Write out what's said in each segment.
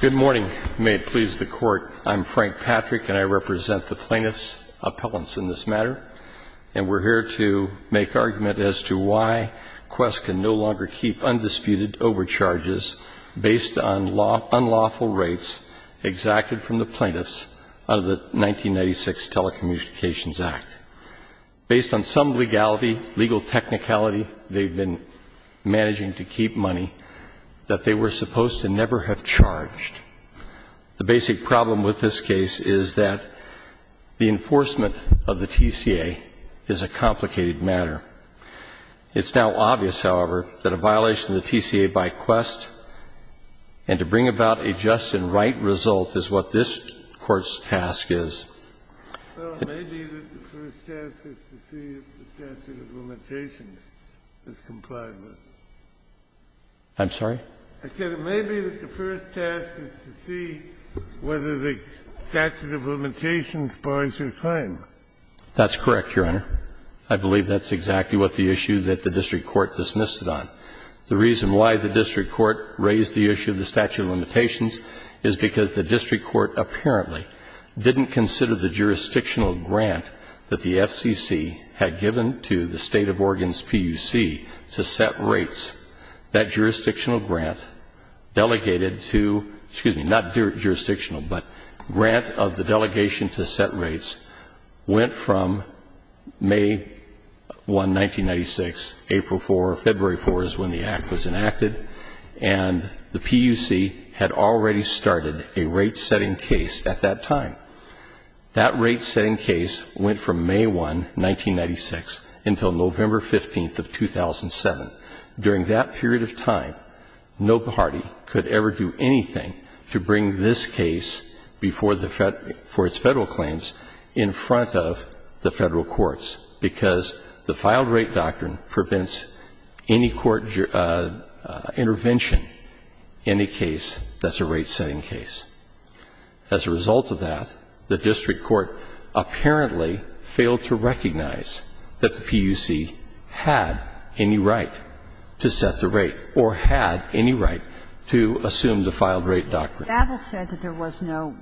Good morning. May it please the Court, I'm Frank Patrick and I represent the plaintiffs' appellants in this matter, and we're here to make argument as to why Qwest can no longer keep undisputed overcharges based on unlawful rates exacted from the plaintiffs under the 1996 Telecommunications Act. Based on some legality, legal technicality, they've been supposed to never have charged. The basic problem with this case is that the enforcement of the TCA is a complicated matter. It's now obvious, however, that a violation of the TCA by Qwest and to bring about a just and right result is what this Court's task is. I'm sorry? That's correct, Your Honor. I believe that's exactly what the issue that the district court dismissed it on. The reason why the district court raised the issue of the statute of limitations is because the district court apparently didn't consider the jurisdictional grant that the FCC had given to the State of Oregon's PUC to set rates. That jurisdictional grant delegated to, excuse me, not jurisdictional, but grant of the delegation to set rates went from May 1, 1996, April 4, February 4 is when the Act was enacted, and the PUC had already started a rate-setting case at that time. That rate-setting case went from May 1, 1996, until November 15 of 2007. During that period of time, no party could ever do anything to bring this case before the Fed, for its Federal claims in front of the Federal courts, because the filed rate doctrine prevents any court intervention in a case that's a rate-setting case. As a result of that, the district court apparently failed to recognize that the PUC had any right to set the rate, or had any right to assume the filed rate doctrine. Kagan Apple said that there was no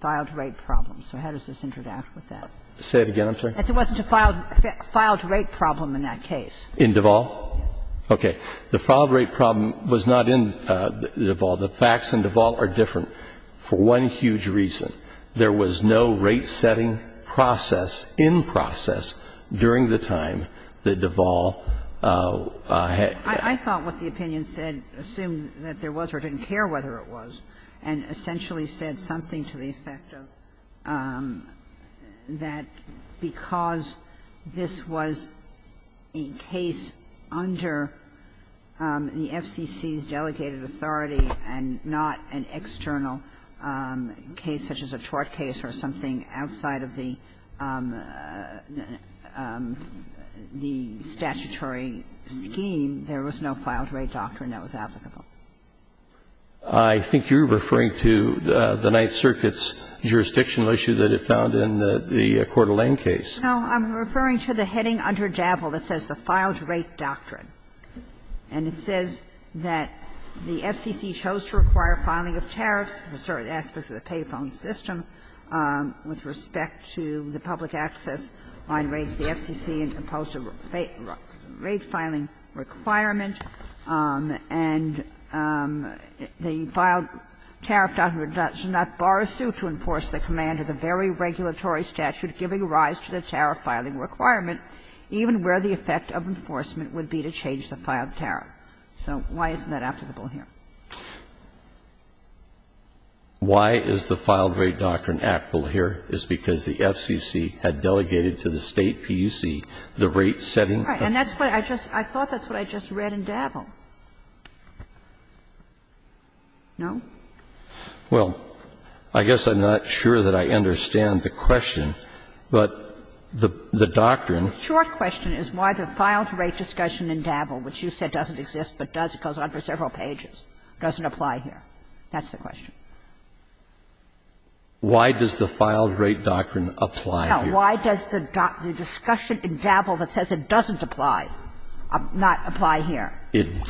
filed rate problem, so how does this interact with that? Say it again, I'm sorry? That there wasn't a filed rate problem in that case. In Duval? Yes. Okay. The filed rate problem was not in Duval. The facts in Duval are different for one huge reason. There was no rate-setting process, in process, during the time that Duval had been set. I thought what the opinion said, assumed that there was or didn't care whether it was, and essentially said something to the effect of that because this was a case under the FCC's delegated authority and not an external case such as a tort case or something outside of the statutory scheme. There was no filed rate doctrine that was applicable. I think you're referring to the Ninth Circuit's jurisdictional issue that it found in the Coeur d'Alene case. No, I'm referring to the heading under Davel that says the filed rate doctrine. And it says that the FCC chose to require filing of tariffs for certain aspects of the payphone system with respect to the public access line rates. The FCC imposed a rate filing requirement, and the filed tariff doctrine does not borrow suit to enforce the command of the very regulatory statute giving rise to the tariff filing requirement, even where the effect of enforcement would be to change the filed tariff. So why isn't that applicable here? Why is the filed rate doctrine applicable here is because the FCC had delegated to the State PUC the rate-setting. And that's what I just – I thought that's what I just read in Davel. No? Well, I guess I'm not sure that I understand the question, but the doctrine Short question is why the filed rate discussion in Davel, which you said doesn't exist but does, it goes on for several pages, doesn't apply here. That's the question. Why does the filed rate doctrine apply here? Why does the discussion in Davel that says it doesn't apply, not apply here? It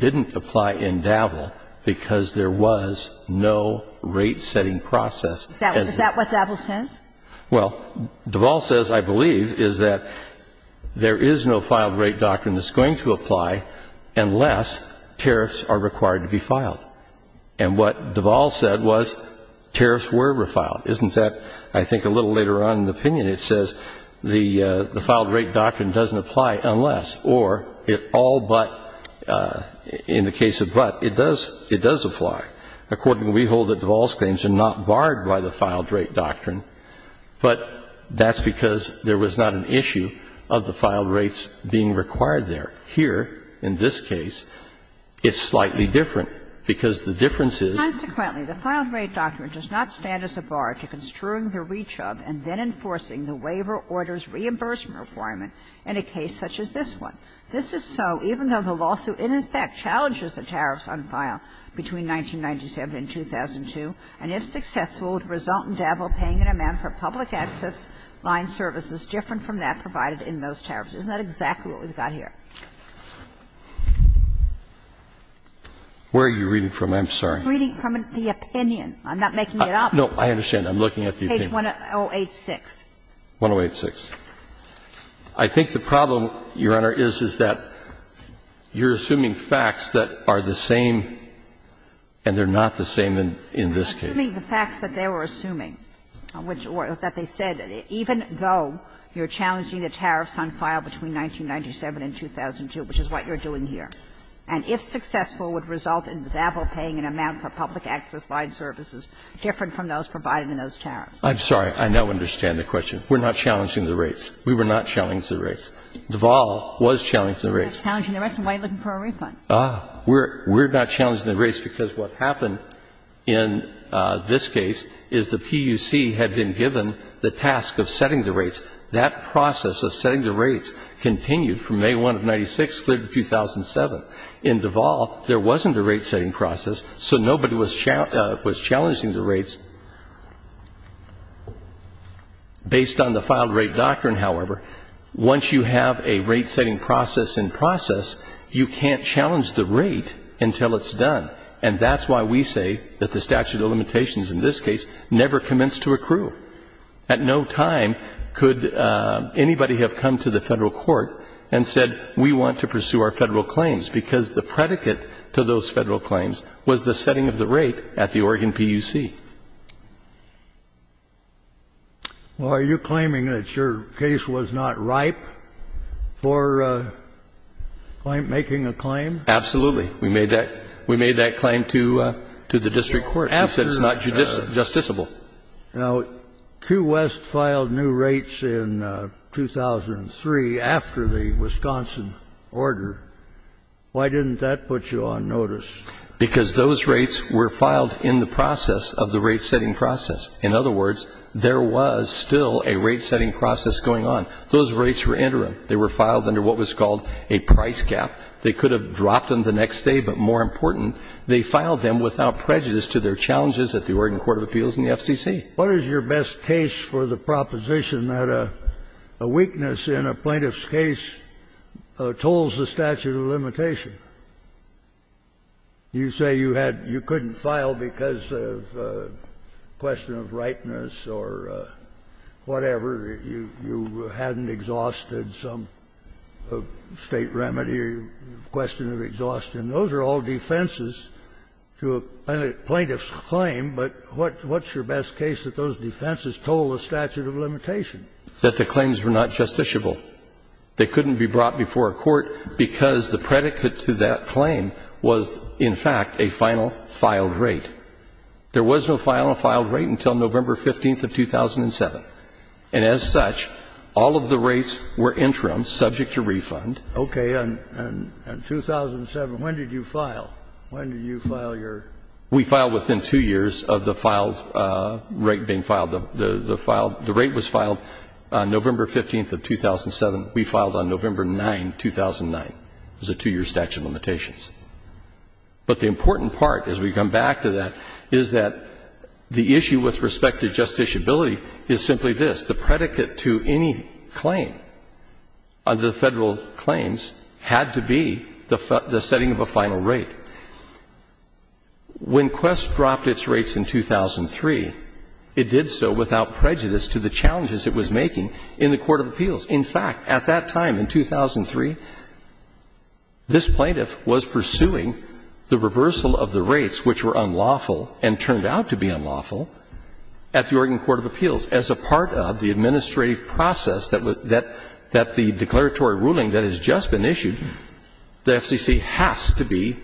didn't apply in Davel because there was no rate-setting process. Is that what Davel says? Well, Davel says, I believe, is that there is no filed rate doctrine that's going to apply unless tariffs are required to be filed. And what Davel said was tariffs were refiled. Isn't that, I think, a little later on in the opinion, it says the filed rate doctrine doesn't apply unless, or it all but, in the case of but, it does apply. Accordingly, we hold that Davel's claims are not barred by the filed rate doctrine, but that's because there was not an issue of the filed rates being required there. Here, in this case, it's slightly different, because the difference is the filed rate doctrine does not stand as a bar to construing the reach of and then enforcing the waiver order's reimbursement requirement in a case such as this one. This is so, even though the lawsuit, in effect, challenges the tariffs on file between 1997 and 2002, and if successful, would result in Davel paying an amount for public access line services different from that provided in most tariffs. Isn't that exactly what we've got here? Where are you reading from? I'm sorry. Reading from the opinion. I'm not making it up. No, I understand. I'm looking at the opinion. Page 1086. 1086. I think the problem, Your Honor, is, is that you're assuming facts that are the same and they're not the same in this case. I'm assuming the facts that they were assuming, which they said, even though you're challenging the tariffs on file between 1997 and 2002, which is what you're doing here, and if successful, would result in Davel paying an amount for public access line services different from those provided in those tariffs. I'm sorry. I now understand the question. We're not challenging the rates. We were not challenging the rates. Davel was challenging the rates. You're not challenging the rates, and why are you looking for a refund? We're not challenging the rates because what happened in this case is the PUC had been given the task of setting the rates. That process of setting the rates continued from May 1 of 1996 through 2007. In Davel, there wasn't a rate-setting process, so nobody was challenging the rates. Based on the filed rate doctrine, however, once you have a rate-setting process in process, you can't challenge the rate until it's done, and that's why we say that the statute of limitations in this case never commenced to accrue. At no time could anybody have come to the Federal Court and said, we want to pursue our Federal claims, because the predicate to those Federal claims was the setting of the rate at the Oregon PUC. Well, are you claiming that your case was not ripe for making a claim? Absolutely. We made that claim to the district court. We said it's not justiciable. Now, Q. West filed new rates in 2003 after the Wisconsin order. Why didn't that put you on notice? Because those rates were filed in the process of the rate-setting process. In other words, there was still a rate-setting process going on. Those rates were interim. They were filed under what was called a price gap. They could have dropped them the next day, but more important, they filed them without prejudice to their challenges at the Oregon Court of Appeals and the FCC. What is your best case for the proposition that a weakness in a plaintiff's case tolls the statute of limitation? You say you had — you couldn't file because of a question of rightness or whatever. You hadn't exhausted some state remedy or question of exhaustion. Those are all defenses to a plaintiff's claim, but what's your best case that those defenses toll the statute of limitation? Well, I would argue that the claims were not justiciable. They couldn't be brought before a court because the predicate to that claim was, in fact, a final filed rate. There was no final filed rate until November 15th of 2007, and as such, all of the rates were interim, subject to refund. Okay. And in 2007, when did you file? When did you file your ‑‑ We filed within two years of the filed rate being filed. The rate was filed November 15th of 2007. We filed on November 9, 2009. It was a two-year statute of limitations. But the important part, as we come back to that, is that the issue with respect to justiciability is simply this. The predicate to any claim under the Federal claims had to be the setting of a final rate. When Quest dropped its rates in 2003, it did so without prejudice to the challenges it was making in the Court of Appeals. In fact, at that time in 2003, this plaintiff was pursuing the reversal of the rates which were unlawful and turned out to be unlawful at the Oregon Court of Appeals. As a part of the administrative process that the declaratory ruling that has just been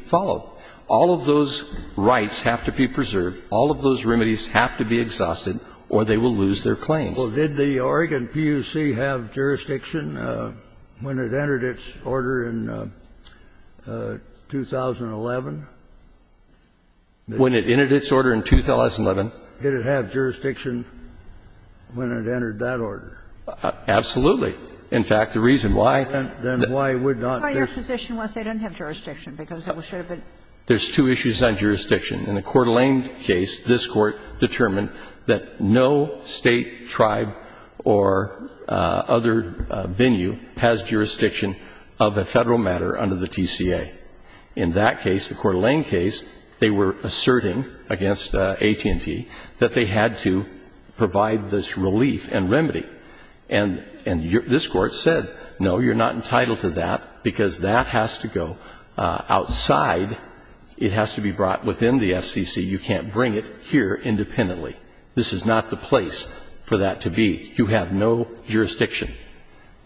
filed, all of those rights have to be preserved, all of those remedies have to be exhausted, or they will lose their claims. Well, did the Oregon PUC have jurisdiction when it entered its order in 2011? When it entered its order in 2011. Did it have jurisdiction when it entered that order? Absolutely. In fact, the reason why ‑‑ Then why would not this ‑‑ The reason why your position was they don't have jurisdiction, because it was ‑‑ There's two issues on jurisdiction. In the Coeur d'Alene case, this Court determined that no State, tribe, or other venue has jurisdiction of a Federal matter under the TCA. In that case, the Coeur d'Alene case, they were asserting against AT&T that they had to provide this relief and remedy. And this Court said, no, you're not entitled to that because that has to go outside. It has to be brought within the FCC. You can't bring it here independently. This is not the place for that to be. You have no jurisdiction.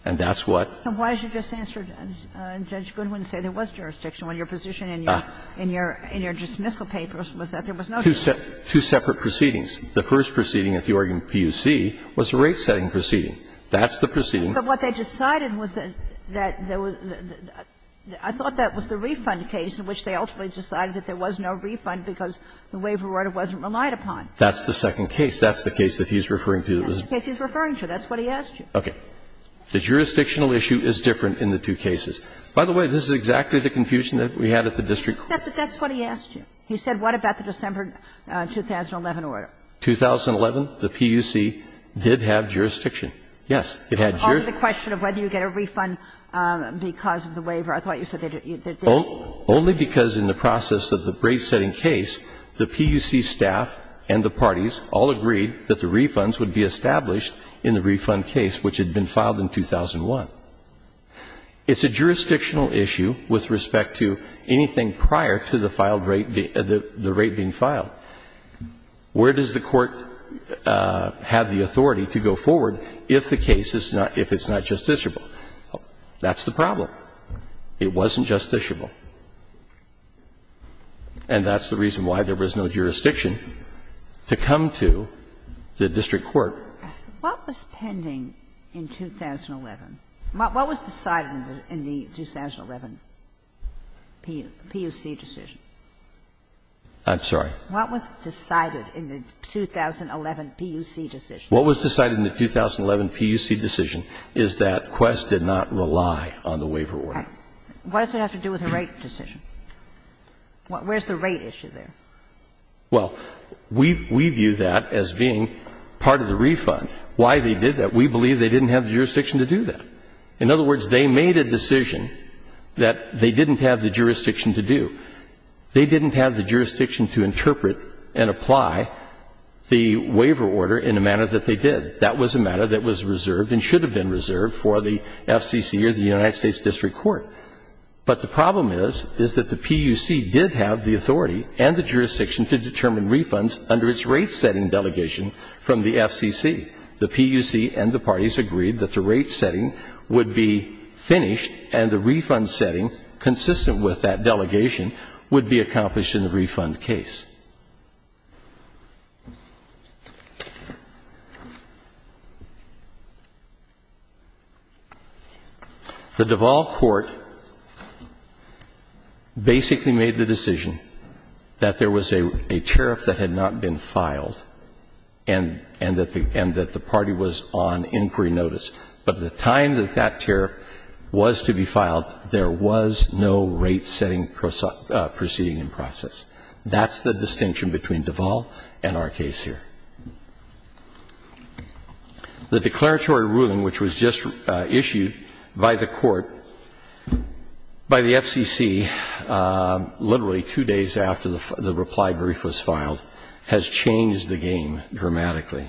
And that's what ‑‑ And why did you just answer Judge Goodwin and say there was jurisdiction when your position in your dismissal papers was that there was no jurisdiction? Two separate proceedings. The first proceeding at the Oregon PUC was a rate-setting proceeding. That's the proceeding. But what they decided was that there was ‑‑ I thought that was the refund case in which they ultimately decided that there was no refund because the waiver order wasn't relied upon. That's the second case. That's the case that he's referring to. That's the case he's referring to. That's what he asked you. Okay. The jurisdictional issue is different in the two cases. By the way, this is exactly the confusion that we had at the district court. That's what he asked you. He said, what about the December 2011 order? 2011, the PUC did have jurisdiction. Yes. It had jurisdiction. Only the question of whether you get a refund because of the waiver. I thought you said they didn't. Only because in the process of the rate-setting case, the PUC staff and the parties all agreed that the refunds would be established in the refund case which had been filed in 2001. It's a jurisdictional issue with respect to anything prior to the filed rate ‑‑ the rate being filed. Where does the court have the authority to go forward if the case is not ‑‑ if it's not justiciable? That's the problem. It wasn't justiciable. And that's the reason why there was no jurisdiction to come to the district court. What was pending in 2011? What was decided in the 2011 PUC decision? I'm sorry? What was decided in the 2011 PUC decision? What was decided in the 2011 PUC decision is that Quest did not rely on the waiver order. What does it have to do with the rate decision? Where's the rate issue there? Well, we view that as being part of the refund. Why they did that, we believe they didn't have the jurisdiction to do that. In other words, they made a decision that they didn't have the jurisdiction to do. They didn't have the jurisdiction to interpret and apply the waiver order in a manner that they did. That was a matter that was reserved and should have been reserved for the FCC or the United States District Court. But the problem is, is that the PUC did have the authority and the jurisdiction to determine refunds under its rate setting delegation from the FCC. The PUC and the parties agreed that the rate setting would be finished and the rate setting would be accomplished in the refund case. The Duval Court basically made the decision that there was a tariff that had not been filed and that the party was on inquiry notice. But at the time that that tariff was to be filed, there was no rate setting proceeding in process. That's the distinction between Duval and our case here. The declaratory ruling which was just issued by the court, by the FCC, literally two days after the reply brief was filed, has changed the game dramatically.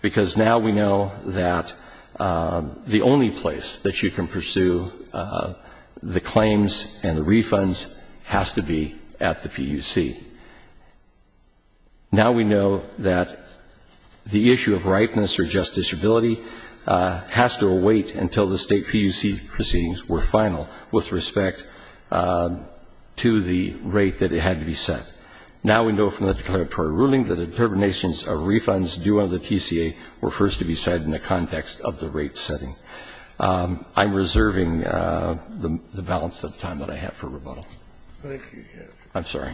Because now we know that the only place that you can pursue the claims and the refunds has to be at the PUC. Now we know that the issue of ripeness or justiciability has to await until the state PUC proceedings were final with respect to the rate that it had to be set. Now we know from the declaratory ruling that determinations of refunds due under the TCA were first to be set in the context of the rate setting. I'm reserving the balance of time that I have for rebuttal. I'm sorry.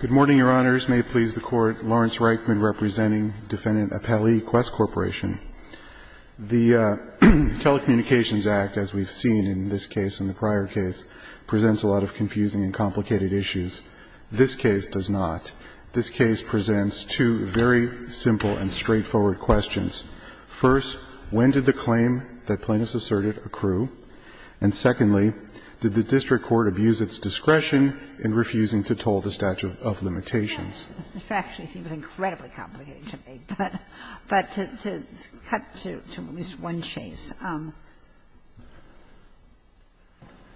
Good morning, Your Honors. May it please the Court. Lawrence Reichman representing Defendant Apelli, Quest Corporation. The Telecommunications Act, as we've seen in this case and the prior case, requires that the plaintiff's discretion in refusing to toll the statute of limitations presents a lot of confusing and complicated issues. This case does not. This case presents two very simple and straightforward questions. First, when did the claim that plaintiffs asserted accrue? And secondly, did the district court abuse its discretion in refusing to toll the statute of limitations? It actually seems incredibly complicated to me, but to cut to at least one chase,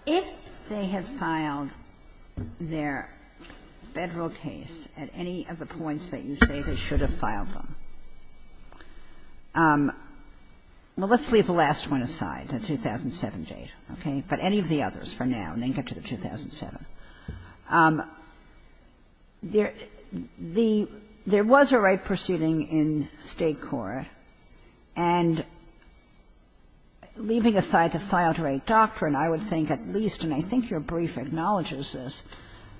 if they had filed their Federal case at any of the points that you say they should have filed them, well, let's leave the last one aside, the 2007 date, okay, but any of the others for now, and then get to the 2007. There was a right proceeding in State court, and leaving aside the file-to-rate doctrine, I would think at least, and I think your brief acknowledges this,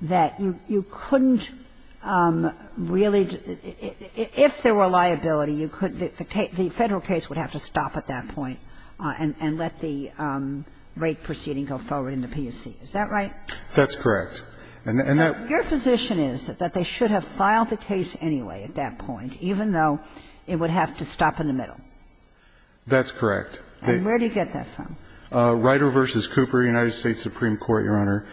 that you couldn't really, if there were liability, you couldn't, the Federal case would have to stop at that point and let the right proceeding go forward in the PSC. Is that right? That's correct. And that your position is that they should have filed the case anyway at that point, even though it would have to stop in the middle? That's correct. And where do you get that from? Rider v. Cooper, United States Supreme Court, Your Honor.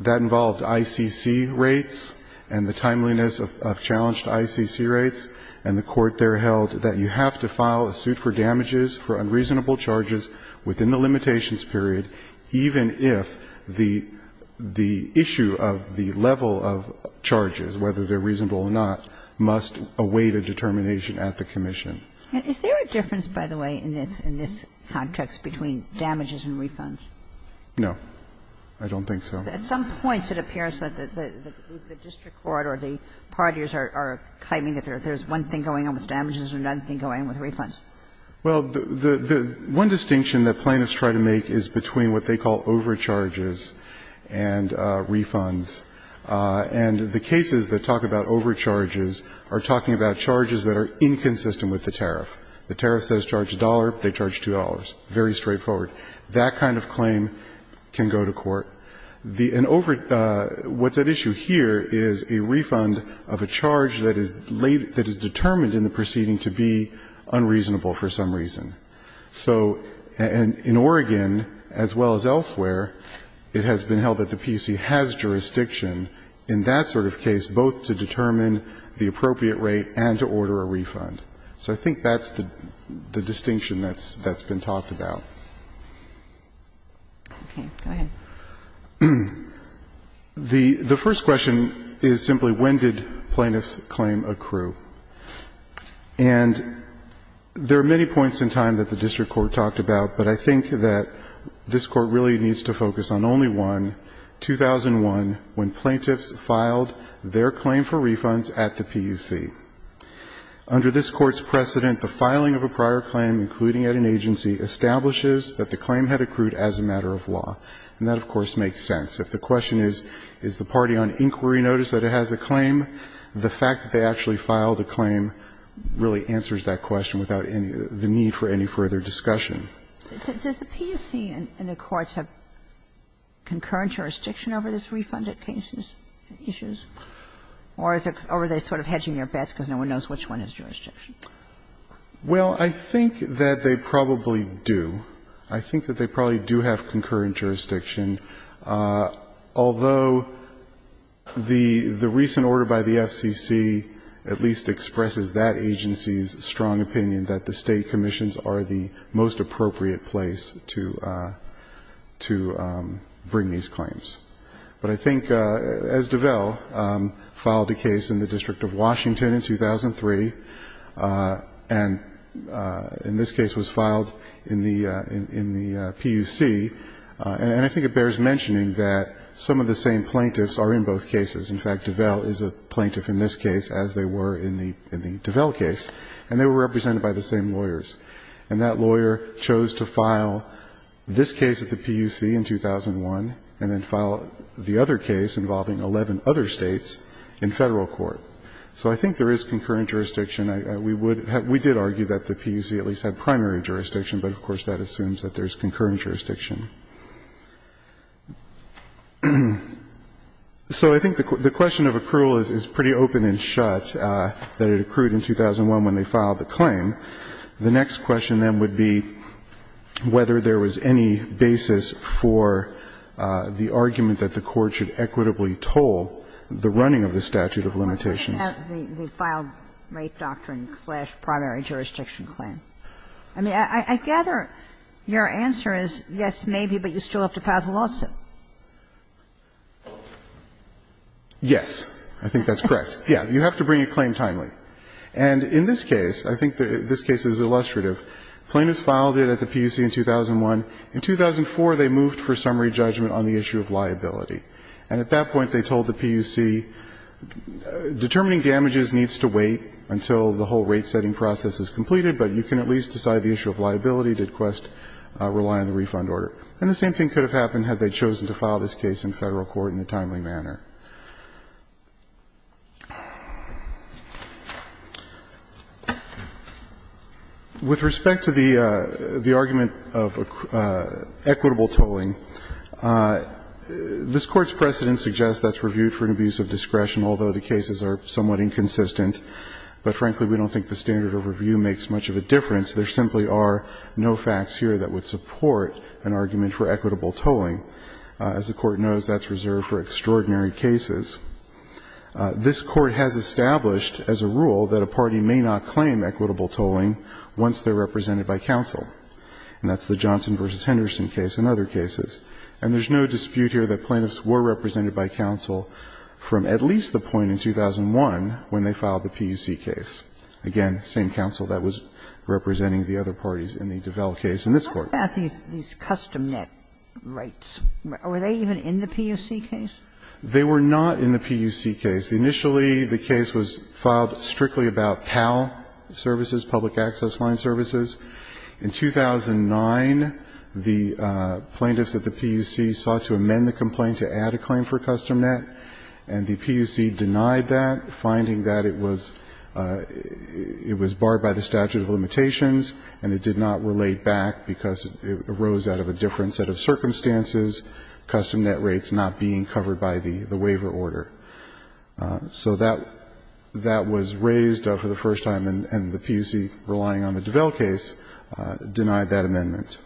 That involved ICC rates and the timeliness of challenged ICC rates, and the court there held that you have to file a suit for damages for unreasonable charges within the limitations period, even if the issue of the level of charges, whether they're reasonable or not, must await a determination at the commission. Is there a difference, by the way, in this context between damages and refunds? No. I don't think so. At some points it appears that the district court or the parties are claiming that there's one thing going on with damages and another thing going on with refunds. Well, the one distinction that plaintiffs try to make is between what they call overcharges and refunds, and the cases that talk about overcharges are talking about charges that are inconsistent with the tariff. The tariff says charge a dollar. They charge $2. Very straightforward. That kind of claim can go to court. What's at issue here is a refund of a charge that is determined in the proceeding unreasonable for some reason. So in Oregon, as well as elsewhere, it has been held that the PUC has jurisdiction in that sort of case, both to determine the appropriate rate and to order a refund. So I think that's the distinction that's been talked about. The first question is simply when did plaintiffs claim accrue? And there are many points in time that the district court talked about, but I think that this Court really needs to focus on only one, 2001, when plaintiffs filed their claim for refunds at the PUC. Under this Court's precedent, the filing of a prior claim, including at an agency, establishes that the claim had accrued as a matter of law. And that, of course, makes sense. If the question is, is the party on inquiry notice that it has a claim, the fact that they actually filed a claim really answers that question without the need for any further discussion. Does the PUC and the courts have concurrent jurisdiction over these refunded cases, issues? Or are they sort of hedging their bets because no one knows which one has jurisdiction? Well, I think that they probably do. I think that they probably do have concurrent jurisdiction. Although the recent order by the FCC at least expresses that agency's strong opinion that the State commissions are the most appropriate place to bring these claims. But I think, as DeVell filed a case in the District of Washington in 2003, and in this DeVell is a plaintiff in this case, as they were in the DeVell case, and they were represented by the same lawyers. And that lawyer chose to file this case at the PUC in 2001 and then file the other case involving 11 other States in Federal court. So I think there is concurrent jurisdiction. We would have we did argue that the PUC at least had primary jurisdiction, but of course that assumes that there is concurrent jurisdiction. So I think the question of accrual is pretty open and shut, that it accrued in 2001 when they filed the claim. The next question then would be whether there was any basis for the argument that the court should equitably toll the running of the statute of limitations. Kagan. I mean, I gather your answer is, yes, maybe, but you still have to file the lawsuit. Yes. I think that's correct. Yes. You have to bring a claim timely. And in this case, I think this case is illustrative. Plaintiffs filed it at the PUC in 2001. In 2004, they moved for summary judgment on the issue of liability. And at that point, they told the PUC, determining damages needs to wait until the whole rate-setting process is completed, but you can at least decide the issue of liability. Did Quest rely on the refund order? And the same thing could have happened had they chosen to file this case in Federal court in a timely manner. With respect to the argument of equitable tolling, this Court's precedent suggests that's reviewed for an abuse of discretion, although the cases are somewhat inconsistent. But frankly, we don't think the standard of review makes much of a difference. There simply are no facts here that would support an argument for equitable tolling. As the Court knows, that's reserved for extraordinary cases. This Court has established as a rule that a party may not claim equitable tolling once they're represented by counsel. And that's the Johnson v. Henderson case and other cases. And there's no dispute here that plaintiffs were represented by counsel from at least the point in 2001 when they filed the PUC case. Again, same counsel that was representing the other parties in the DeVal case in this Court. Ginsburg. But what about these custom net rates? Were they even in the PUC case? They were not in the PUC case. Initially, the case was filed strictly about PAL services, public access line services. In 2009, the plaintiffs at the PUC sought to amend the complaint to add a claim for custom net. And the PUC denied that, finding that it was barred by the statute of limitations and it did not relate back because it arose out of a different set of circumstances, custom net rates not being covered by the waiver order. So that was raised for the first time, and the PUC, relying on the DeVal case, denied that amendment.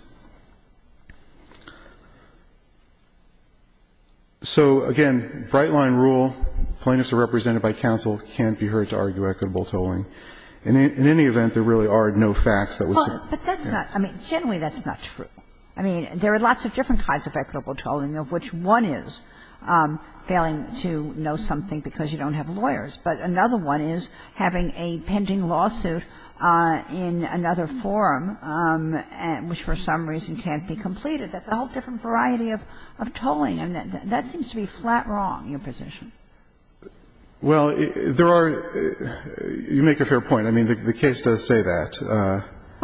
So, again, bright-line rule, plaintiffs are represented by counsel, can't be heard to argue equitable tolling. In any event, there really are no facts that would certainly, you know. Well, but that's not – I mean, generally that's not true. I mean, there are lots of different kinds of equitable tolling, of which one is failing to know something because you don't have lawyers, but another one is having a pending lawsuit in another forum, which for some reason can't be completed. That's a whole different variety of tolling. And that seems to be flat wrong, your position. Well, there are – you make a fair point. I mean, the case does say that.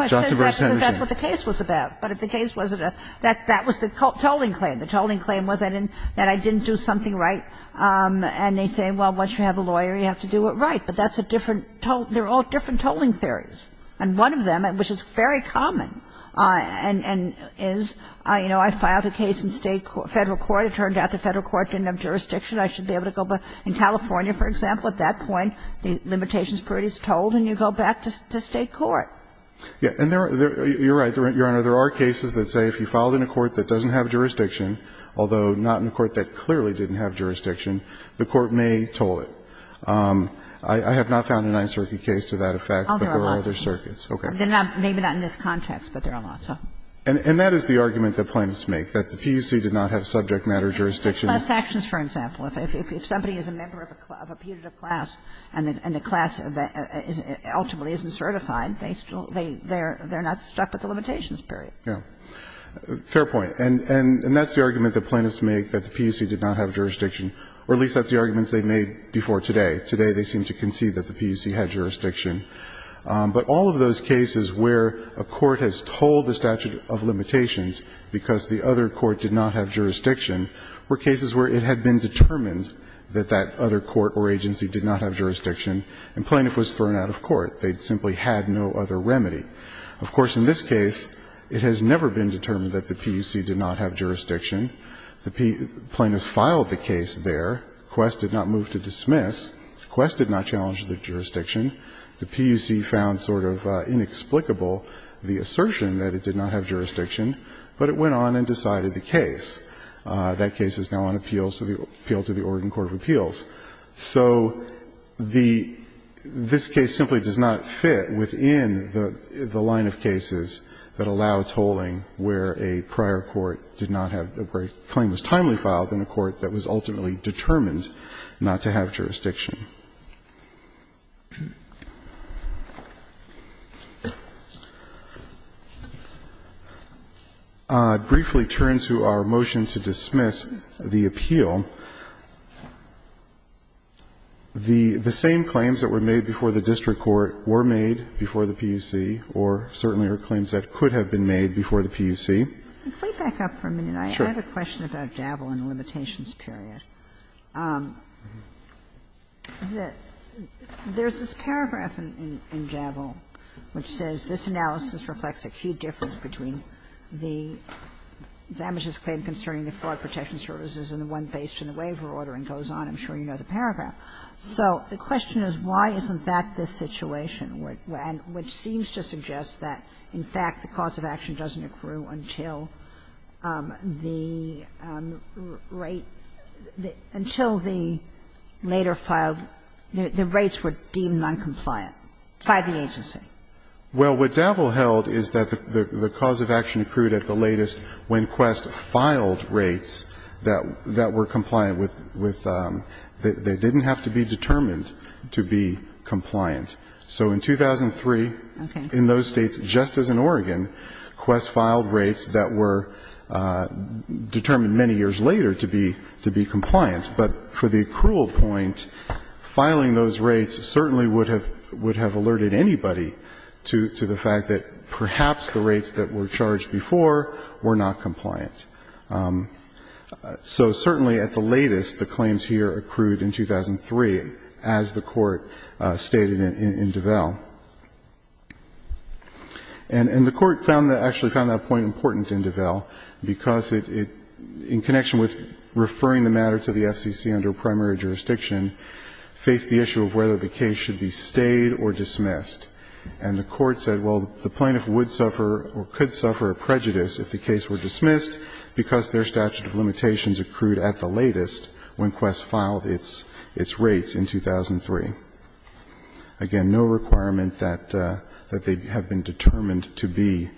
Johnson versus Henderson. That's what the case was about. But if the case wasn't a – that was the tolling claim. The tolling claim was that I didn't do something right. And they say, well, once you have a lawyer, you have to do it right. But that's a different – they're all different tolling theories. And one of them, which is very common, and is, you know, I filed a case in State – Federal Court. It turned out the Federal Court didn't have jurisdiction. I should be able to go back. In California, for example, at that point, the limitations period is tolled and you go back to State court. Yeah. And there are – you're right, Your Honor. There are cases that say if you filed in a court that doesn't have jurisdiction, although not in a court that clearly didn't have jurisdiction, the court may toll it. I have not found a Ninth Circuit case to that effect, but there are other circuits. Okay. Maybe not in this context, but there are lots of them. And that is the argument that plaintiffs make, that the PUC did not have subject matter jurisdiction. Six plus actions, for example. If somebody is a member of a putative class and the class ultimately isn't certified, they still – they're not stuck with the limitations period. Yeah. Fair point. And that's the argument that plaintiffs make, that the PUC did not have jurisdiction. Or at least that's the argument they made before today. Today, they seem to concede that the PUC had jurisdiction. But all of those cases where a court has tolled the statute of limitations because the other court did not have jurisdiction were cases where it had been determined that that other court or agency did not have jurisdiction and the plaintiff was thrown out of court. They simply had no other remedy. Of course, in this case, it has never been determined that the PUC did not have jurisdiction. The plaintiff filed the case there. Quest did not move to dismiss. Quest did not challenge the jurisdiction. The PUC found sort of inexplicable the assertion that it did not have jurisdiction. But it went on and decided the case. That case is now on appeal to the Oregon Court of Appeals. So the this case simply does not fit within the line of cases that allow tolling where a prior court did not have, where a claim was timely filed in a court that was ultimately determined not to have jurisdiction. I'd briefly turn to our motion to dismiss the appeal. The same claims that were made before the district court were made before the PUC or certainly are claims that could have been made before the PUC. Kagan. I have a question about Dabble and the limitations period. There's this paragraph in Dabble which says, this analysis reflects a key difference between the damages claim concerning the Fraud Protection Services and the one based on the waiver order and goes on. I'm sure you know the paragraph. So the question is why isn't that the situation, which seems to suggest that, in fact, the cause of action doesn't accrue until the rate, until the later filed, the rates were deemed noncompliant by the agency? Well, what Dabble held is that the cause of action accrued at the latest when Quest filed rates that were compliant with, they didn't have to be determined to be compliant. So in 2003, in those States, just as in Oregon, Quest filed rates that were determined many years later to be compliant. But for the accrual point, filing those rates certainly would have alerted anybody to the fact that perhaps the rates that were charged before were not compliant. So certainly at the latest, the claims here accrued in 2003, as the Court stated in Dabble. And the Court found that, actually found that point important in Dabble, because it, in connection with referring the matter to the FCC under primary jurisdiction, faced the issue of whether the case should be stayed or dismissed. And the Court said, well, the plaintiff would suffer or could suffer a prejudice if the case were dismissed because their statute of limitations accrued at the latest when Quest filed its rates in 2003. Again, no requirement that they have been determined to be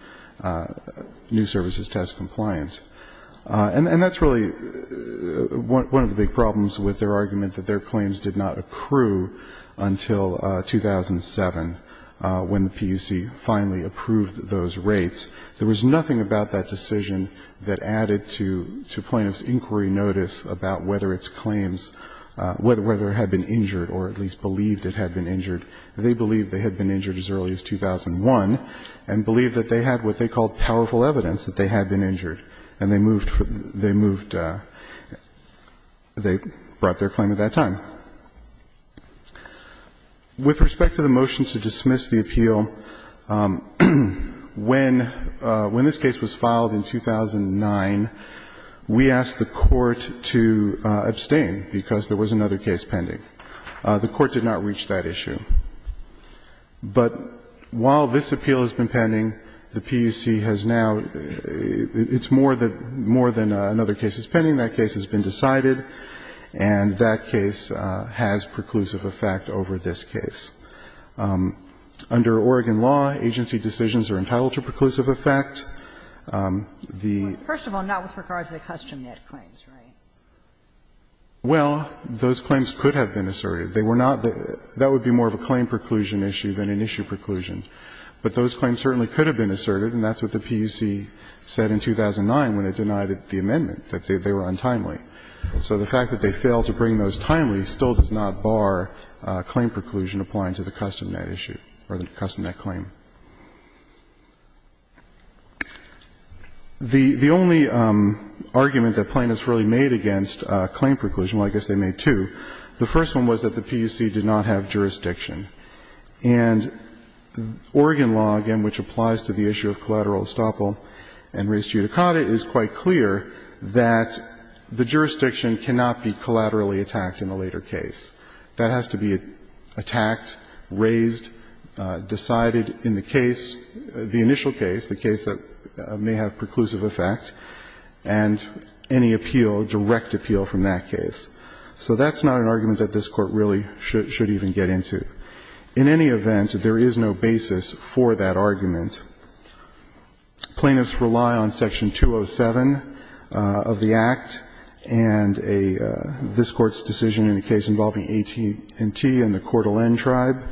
new services test compliant. And that's really one of the big problems with their argument that their claims did not accrue until 2007, when the PUC finally approved those rates. There was nothing about that decision that added to plaintiff's inquiry notice about whether its claims, whether it had been injured or at least believed it had been injured. They believed they had been injured as early as 2001 and believed that they had what they called powerful evidence that they had been injured, and they moved, they moved they brought their claim at that time. With respect to the motion to dismiss the appeal, when this case was filed in 2009, we asked the Court to abstain because there was another case pending. The Court did not reach that issue. But while this appeal has been pending, the PUC has now, it's more than, more than another case is pending. That case has been decided, and that case has preclusive effect over this case. Under Oregon law, agency decisions are entitled to preclusive effect. The ---- First of all, not with regard to the custom net claims, right? Well, those claims could have been asserted. They were not the ---- that would be more of a claim preclusion issue than an issue preclusion. But those claims certainly could have been asserted, and that's what the PUC said in 2009 when it denied the amendment, that they were untimely. So the fact that they failed to bring those timely still does not bar claim preclusion applying to the custom net issue or the custom net claim. The only argument that plaintiffs really made against claim preclusion, well, I guess they made two. The first one was that the PUC did not have jurisdiction. And Oregon law, again, which applies to the issue of collateral estoppel and res judicata, is quite clear that the jurisdiction cannot be collaterally attacked in a later case. That has to be attacked, raised, decided in the case, the initial case, the case that may have preclusive effect, and any appeal, direct appeal from that case. So that's not an argument that this Court really should even get into. In any event, there is no basis for that argument. Plaintiffs rely on Section 207 of the Act and a ---- this Court's decision in a case involving AT&T and the Coeur d'Alene tribe,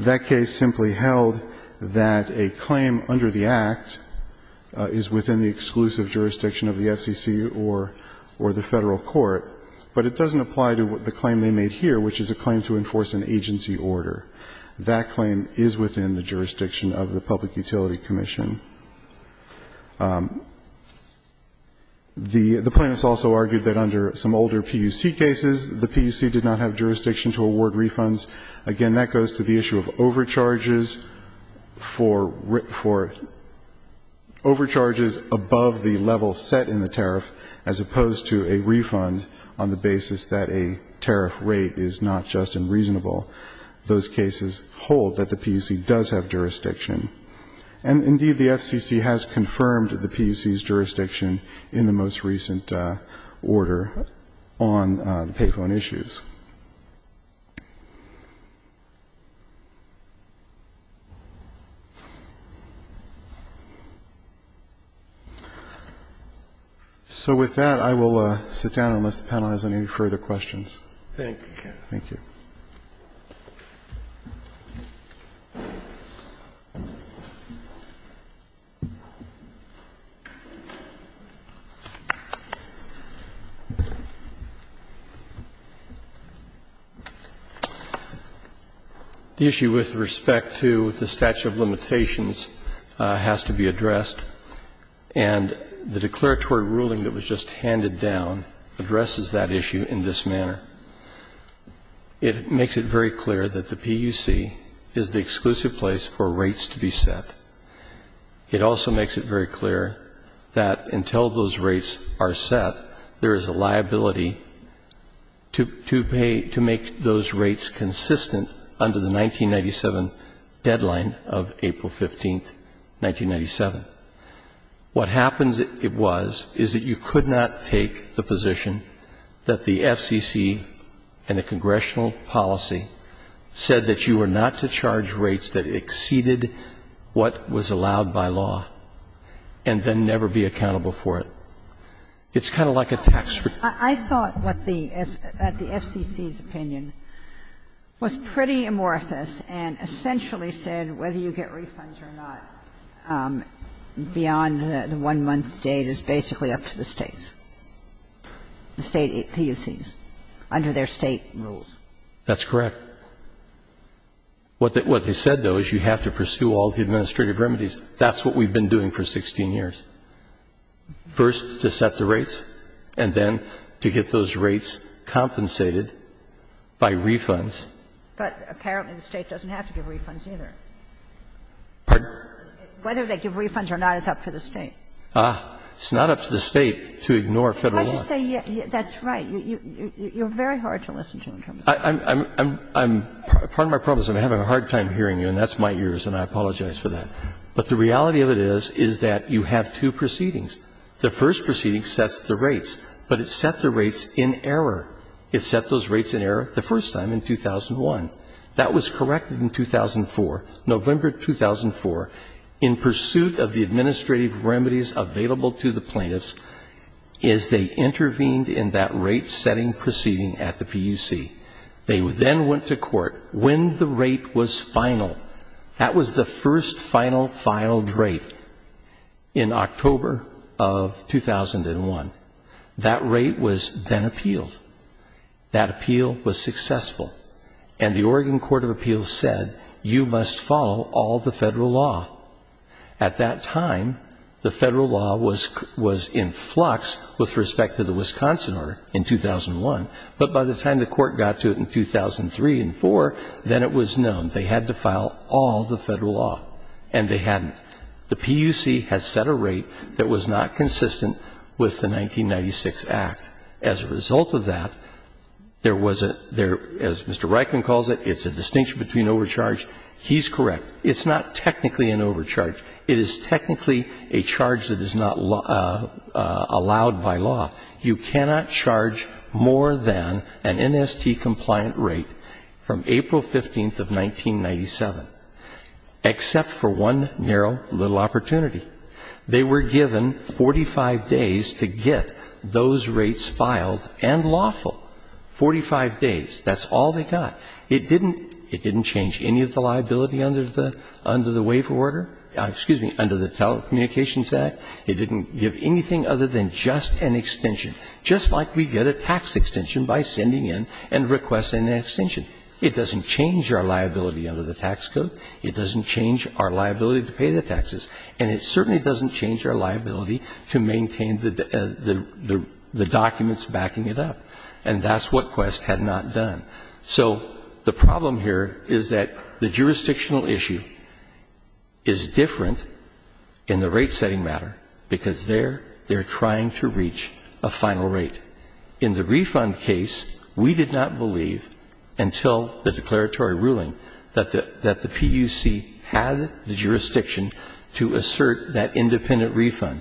that case simply held that a claim under the Act is within the exclusive jurisdiction of the FCC or the Federal Court, but it doesn't apply to the claim they made here, which is a claim to enforce an agency order. That claim is within the jurisdiction of the Public Utility Commission. The plaintiffs also argued that under some older PUC cases, the PUC did not have jurisdiction to award refunds. Again, that goes to the issue of overcharges for ---- for overcharges above the level set in the tariff as opposed to a refund on the basis that a tariff rate is not just unreasonable. Those cases hold that the PUC does have jurisdiction. And indeed, the FCC has confirmed the PUC's jurisdiction in the most recent order on the payphone issues. So with that, I will sit down unless the panel has any further questions. Thank you. The issue with respect to the statute of limitations has to be addressed. And the declaratory ruling that was just handed down addresses that issue in this manner. It makes it very clear that the PUC is the exclusive place for rates to be set. It also makes it very clear that until those rates are set, there is a liability to pay to make those rates consistent under the 1997 deadline of April 15th, 1997. What happens, it was, is that you could not take the position that the FCC and the congressional policy said that you were not to charge rates that exceeded what was allowed by law and then never be accountable for it. It's kind of like a tax return. I thought what the ---- that the FCC's opinion was pretty amorphous and essentially said whether you get refunds or not beyond the 1-month date is basically up to the States, the State PUCs, under their State rules. That's correct. What they said, though, is you have to pursue all the administrative remedies. That's what we've been doing for 16 years. First, to set the rates, and then to get those rates compensated by refunds. But apparently the State doesn't have to give refunds, either. Whether they give refunds or not is up to the State. Ah, it's not up to the State to ignore Federal law. Why do you say that's right? You're very hard to listen to in terms of that. I'm, I'm, I'm, part of my problem is I'm having a hard time hearing you, and that's my ears, and I apologize for that. But the reality of it is, is that you have two proceedings. The first proceeding sets the rates, but it set the rates in error. It set those rates in error the first time in 2001. That was corrected in 2004, November 2004, in pursuit of the administrative remedies available to the plaintiffs as they intervened in that rate-setting proceeding at the PUC. They then went to court when the rate was final. That was the first final filed rate in October of 2001. That rate was then appealed. That appeal was successful. And the Oregon Court of Appeals said, you must follow all the Federal law. At that time, the Federal law was, was in flux with respect to the Wisconsin order in 2001. But by the time the court got to it in 2003 and 2004, then it was known. They had to file all the Federal law, and they hadn't. The PUC has set a rate that was not consistent with the 1996 Act. As a result of that, there was a, there, as Mr. Reichman calls it, it's a distinction between overcharge. He's correct. It's not technically an overcharge. It is technically a charge that is not allowed by law. You cannot charge more than an NST-compliant rate from April 15th of 1997, except for one narrow little opportunity. They were given 45 days to get those rates filed and lawful. Forty-five days. That's all they got. It didn't, it didn't change any of the liability under the, under the waiver order or, excuse me, under the Telecommunications Act. It didn't give anything other than just an extension, just like we get a tax extension by sending in and requesting an extension. It doesn't change our liability under the tax code. It doesn't change our liability to pay the taxes. And it certainly doesn't change our liability to maintain the, the documents backing it up. And that's what Quest had not done. So the problem here is that the jurisdictional issue is different in the rate-setting matter, because they're, they're trying to reach a final rate. In the refund case, we did not believe until the declaratory ruling that the, that the PUC had the jurisdiction to assert that independent refund.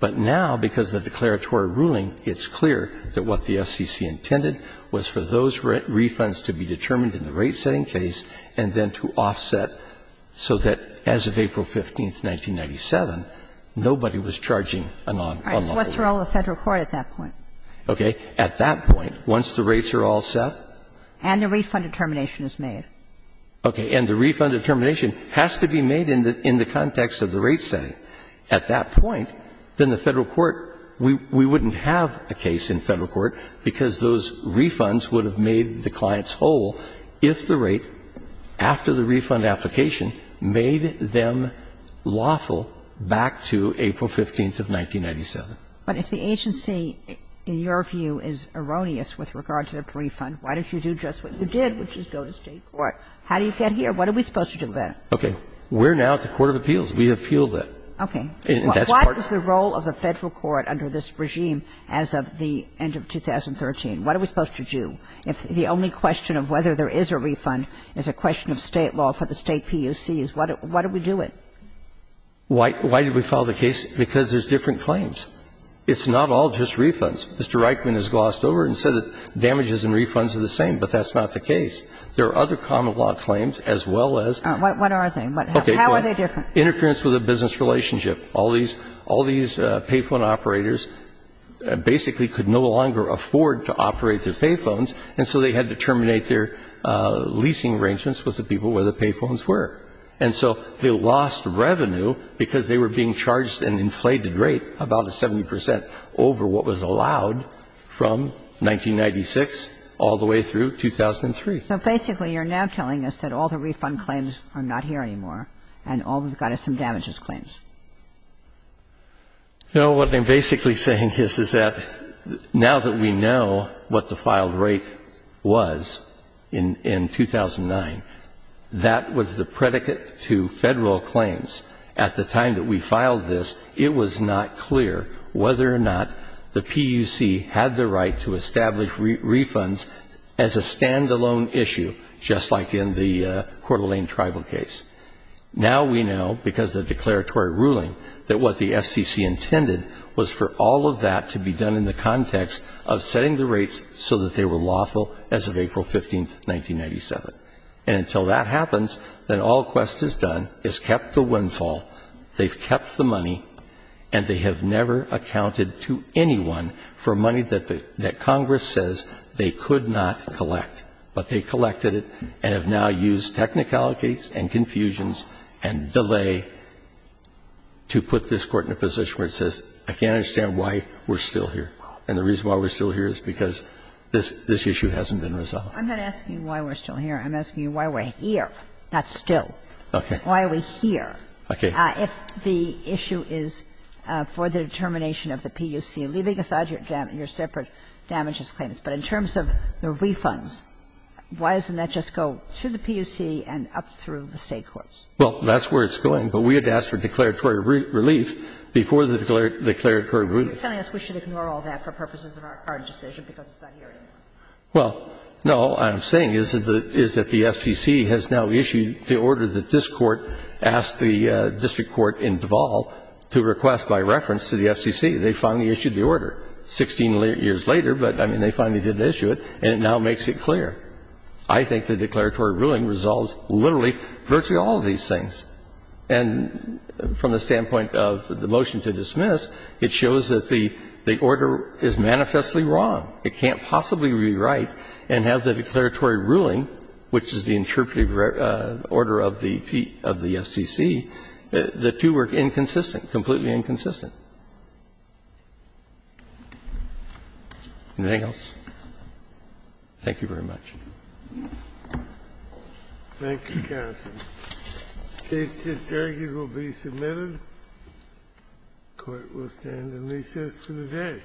But now, because of the declaratory ruling, it's clear that what the FCC intended was for those refunds to be determined in the rate-setting case and then to offset so that as of April 15th, 1997, nobody was charging a non-lawful rate. All right. So what's the role of the Federal court at that point? Okay. At that point, once the rates are all set. And the refund determination is made. Okay. And the refund determination has to be made in the, in the context of the rate-setting. At that point, then the Federal court, we, we wouldn't have a case in Federal court, because those refunds would have made the clients whole if the rate, after the refund application, made them lawful back to April 15th of 1997. But if the agency, in your view, is erroneous with regard to the refund, why don't you do just what you did, which is go to State court? How do you get here? What are we supposed to do then? Okay. We're now at the court of appeals. We have appealed it. Okay. And that's part of it. What is the role of the Federal court under this regime as of the end of 2013? What are we supposed to do? If the only question of whether there is a refund is a question of State law for the State PUCs, what do we do with it? Why, why did we file the case? Because there's different claims. It's not all just refunds. Mr. Reichman has glossed over it and said that damages and refunds are the same, but that's not the case. There are other common-law claims, as well as. What are they? How are they different? Interference with a business relationship. All these, all these payphone operators basically could no longer afford to operate their payphones, and so they had to terminate their leasing arrangements with the people where the payphones were. And so they lost revenue because they were being charged an inflated rate, about 70 percent, over what was allowed from 1996 all the way through 2003. So basically, you're now telling us that all the refund claims are not here anymore and all we've got is some damages claims. No. What I'm basically saying is, is that now that we know what the filed rate was in, in 2009, that was the predicate to Federal claims. At the time that we filed this, it was not clear whether or not the PUC had the right to establish refunds as a standalone issue, just like in the Coeur d'Alene tribal case. Now we know, because of the declaratory ruling, that what the FCC intended was for all of that to be done in the context of setting the rates so that they were lawful as of April 15, 1997. And until that happens, then all Quest has done is kept the windfall, they've kept the money, and they have never accounted to anyone for money that Congress says they could not collect. But they collected it and have now used technicalities and confusions and delay to put this Court in a position where it says, I can't understand why we're still here, and the reason why we're still here is because this issue hasn't been resolved. I'm not asking you why we're still here. I'm asking you why we're here, not still. Okay. Why are we here? Okay. If the issue is for the determination of the PUC, leaving aside your separate damages claims, but in terms of the refunds, why doesn't that just go to the PUC and up through the State courts? Well, that's where it's going. But we had asked for declaratory relief before the declaratory ruling. You're telling us we should ignore all that for purposes of our decision because it's not here anymore. Well, no, what I'm saying is that the FCC has now issued the order that this Court asked the district court in Duval to request by reference to the FCC. They finally issued the order 16 years later, but, I mean, they finally didn't issue it, and it now makes it clear. I think the declaratory ruling resolves literally virtually all of these things. And from the standpoint of the motion to dismiss, it shows that the order is manifestly wrong. It can't possibly rewrite and have the declaratory ruling, which is the interpretive order of the FCC, the two were inconsistent, completely inconsistent. Anything else? Thank you very much. Thank you, counsel. The case is adjourned. It will be submitted. The Court will stand in recess for the day. Thank you.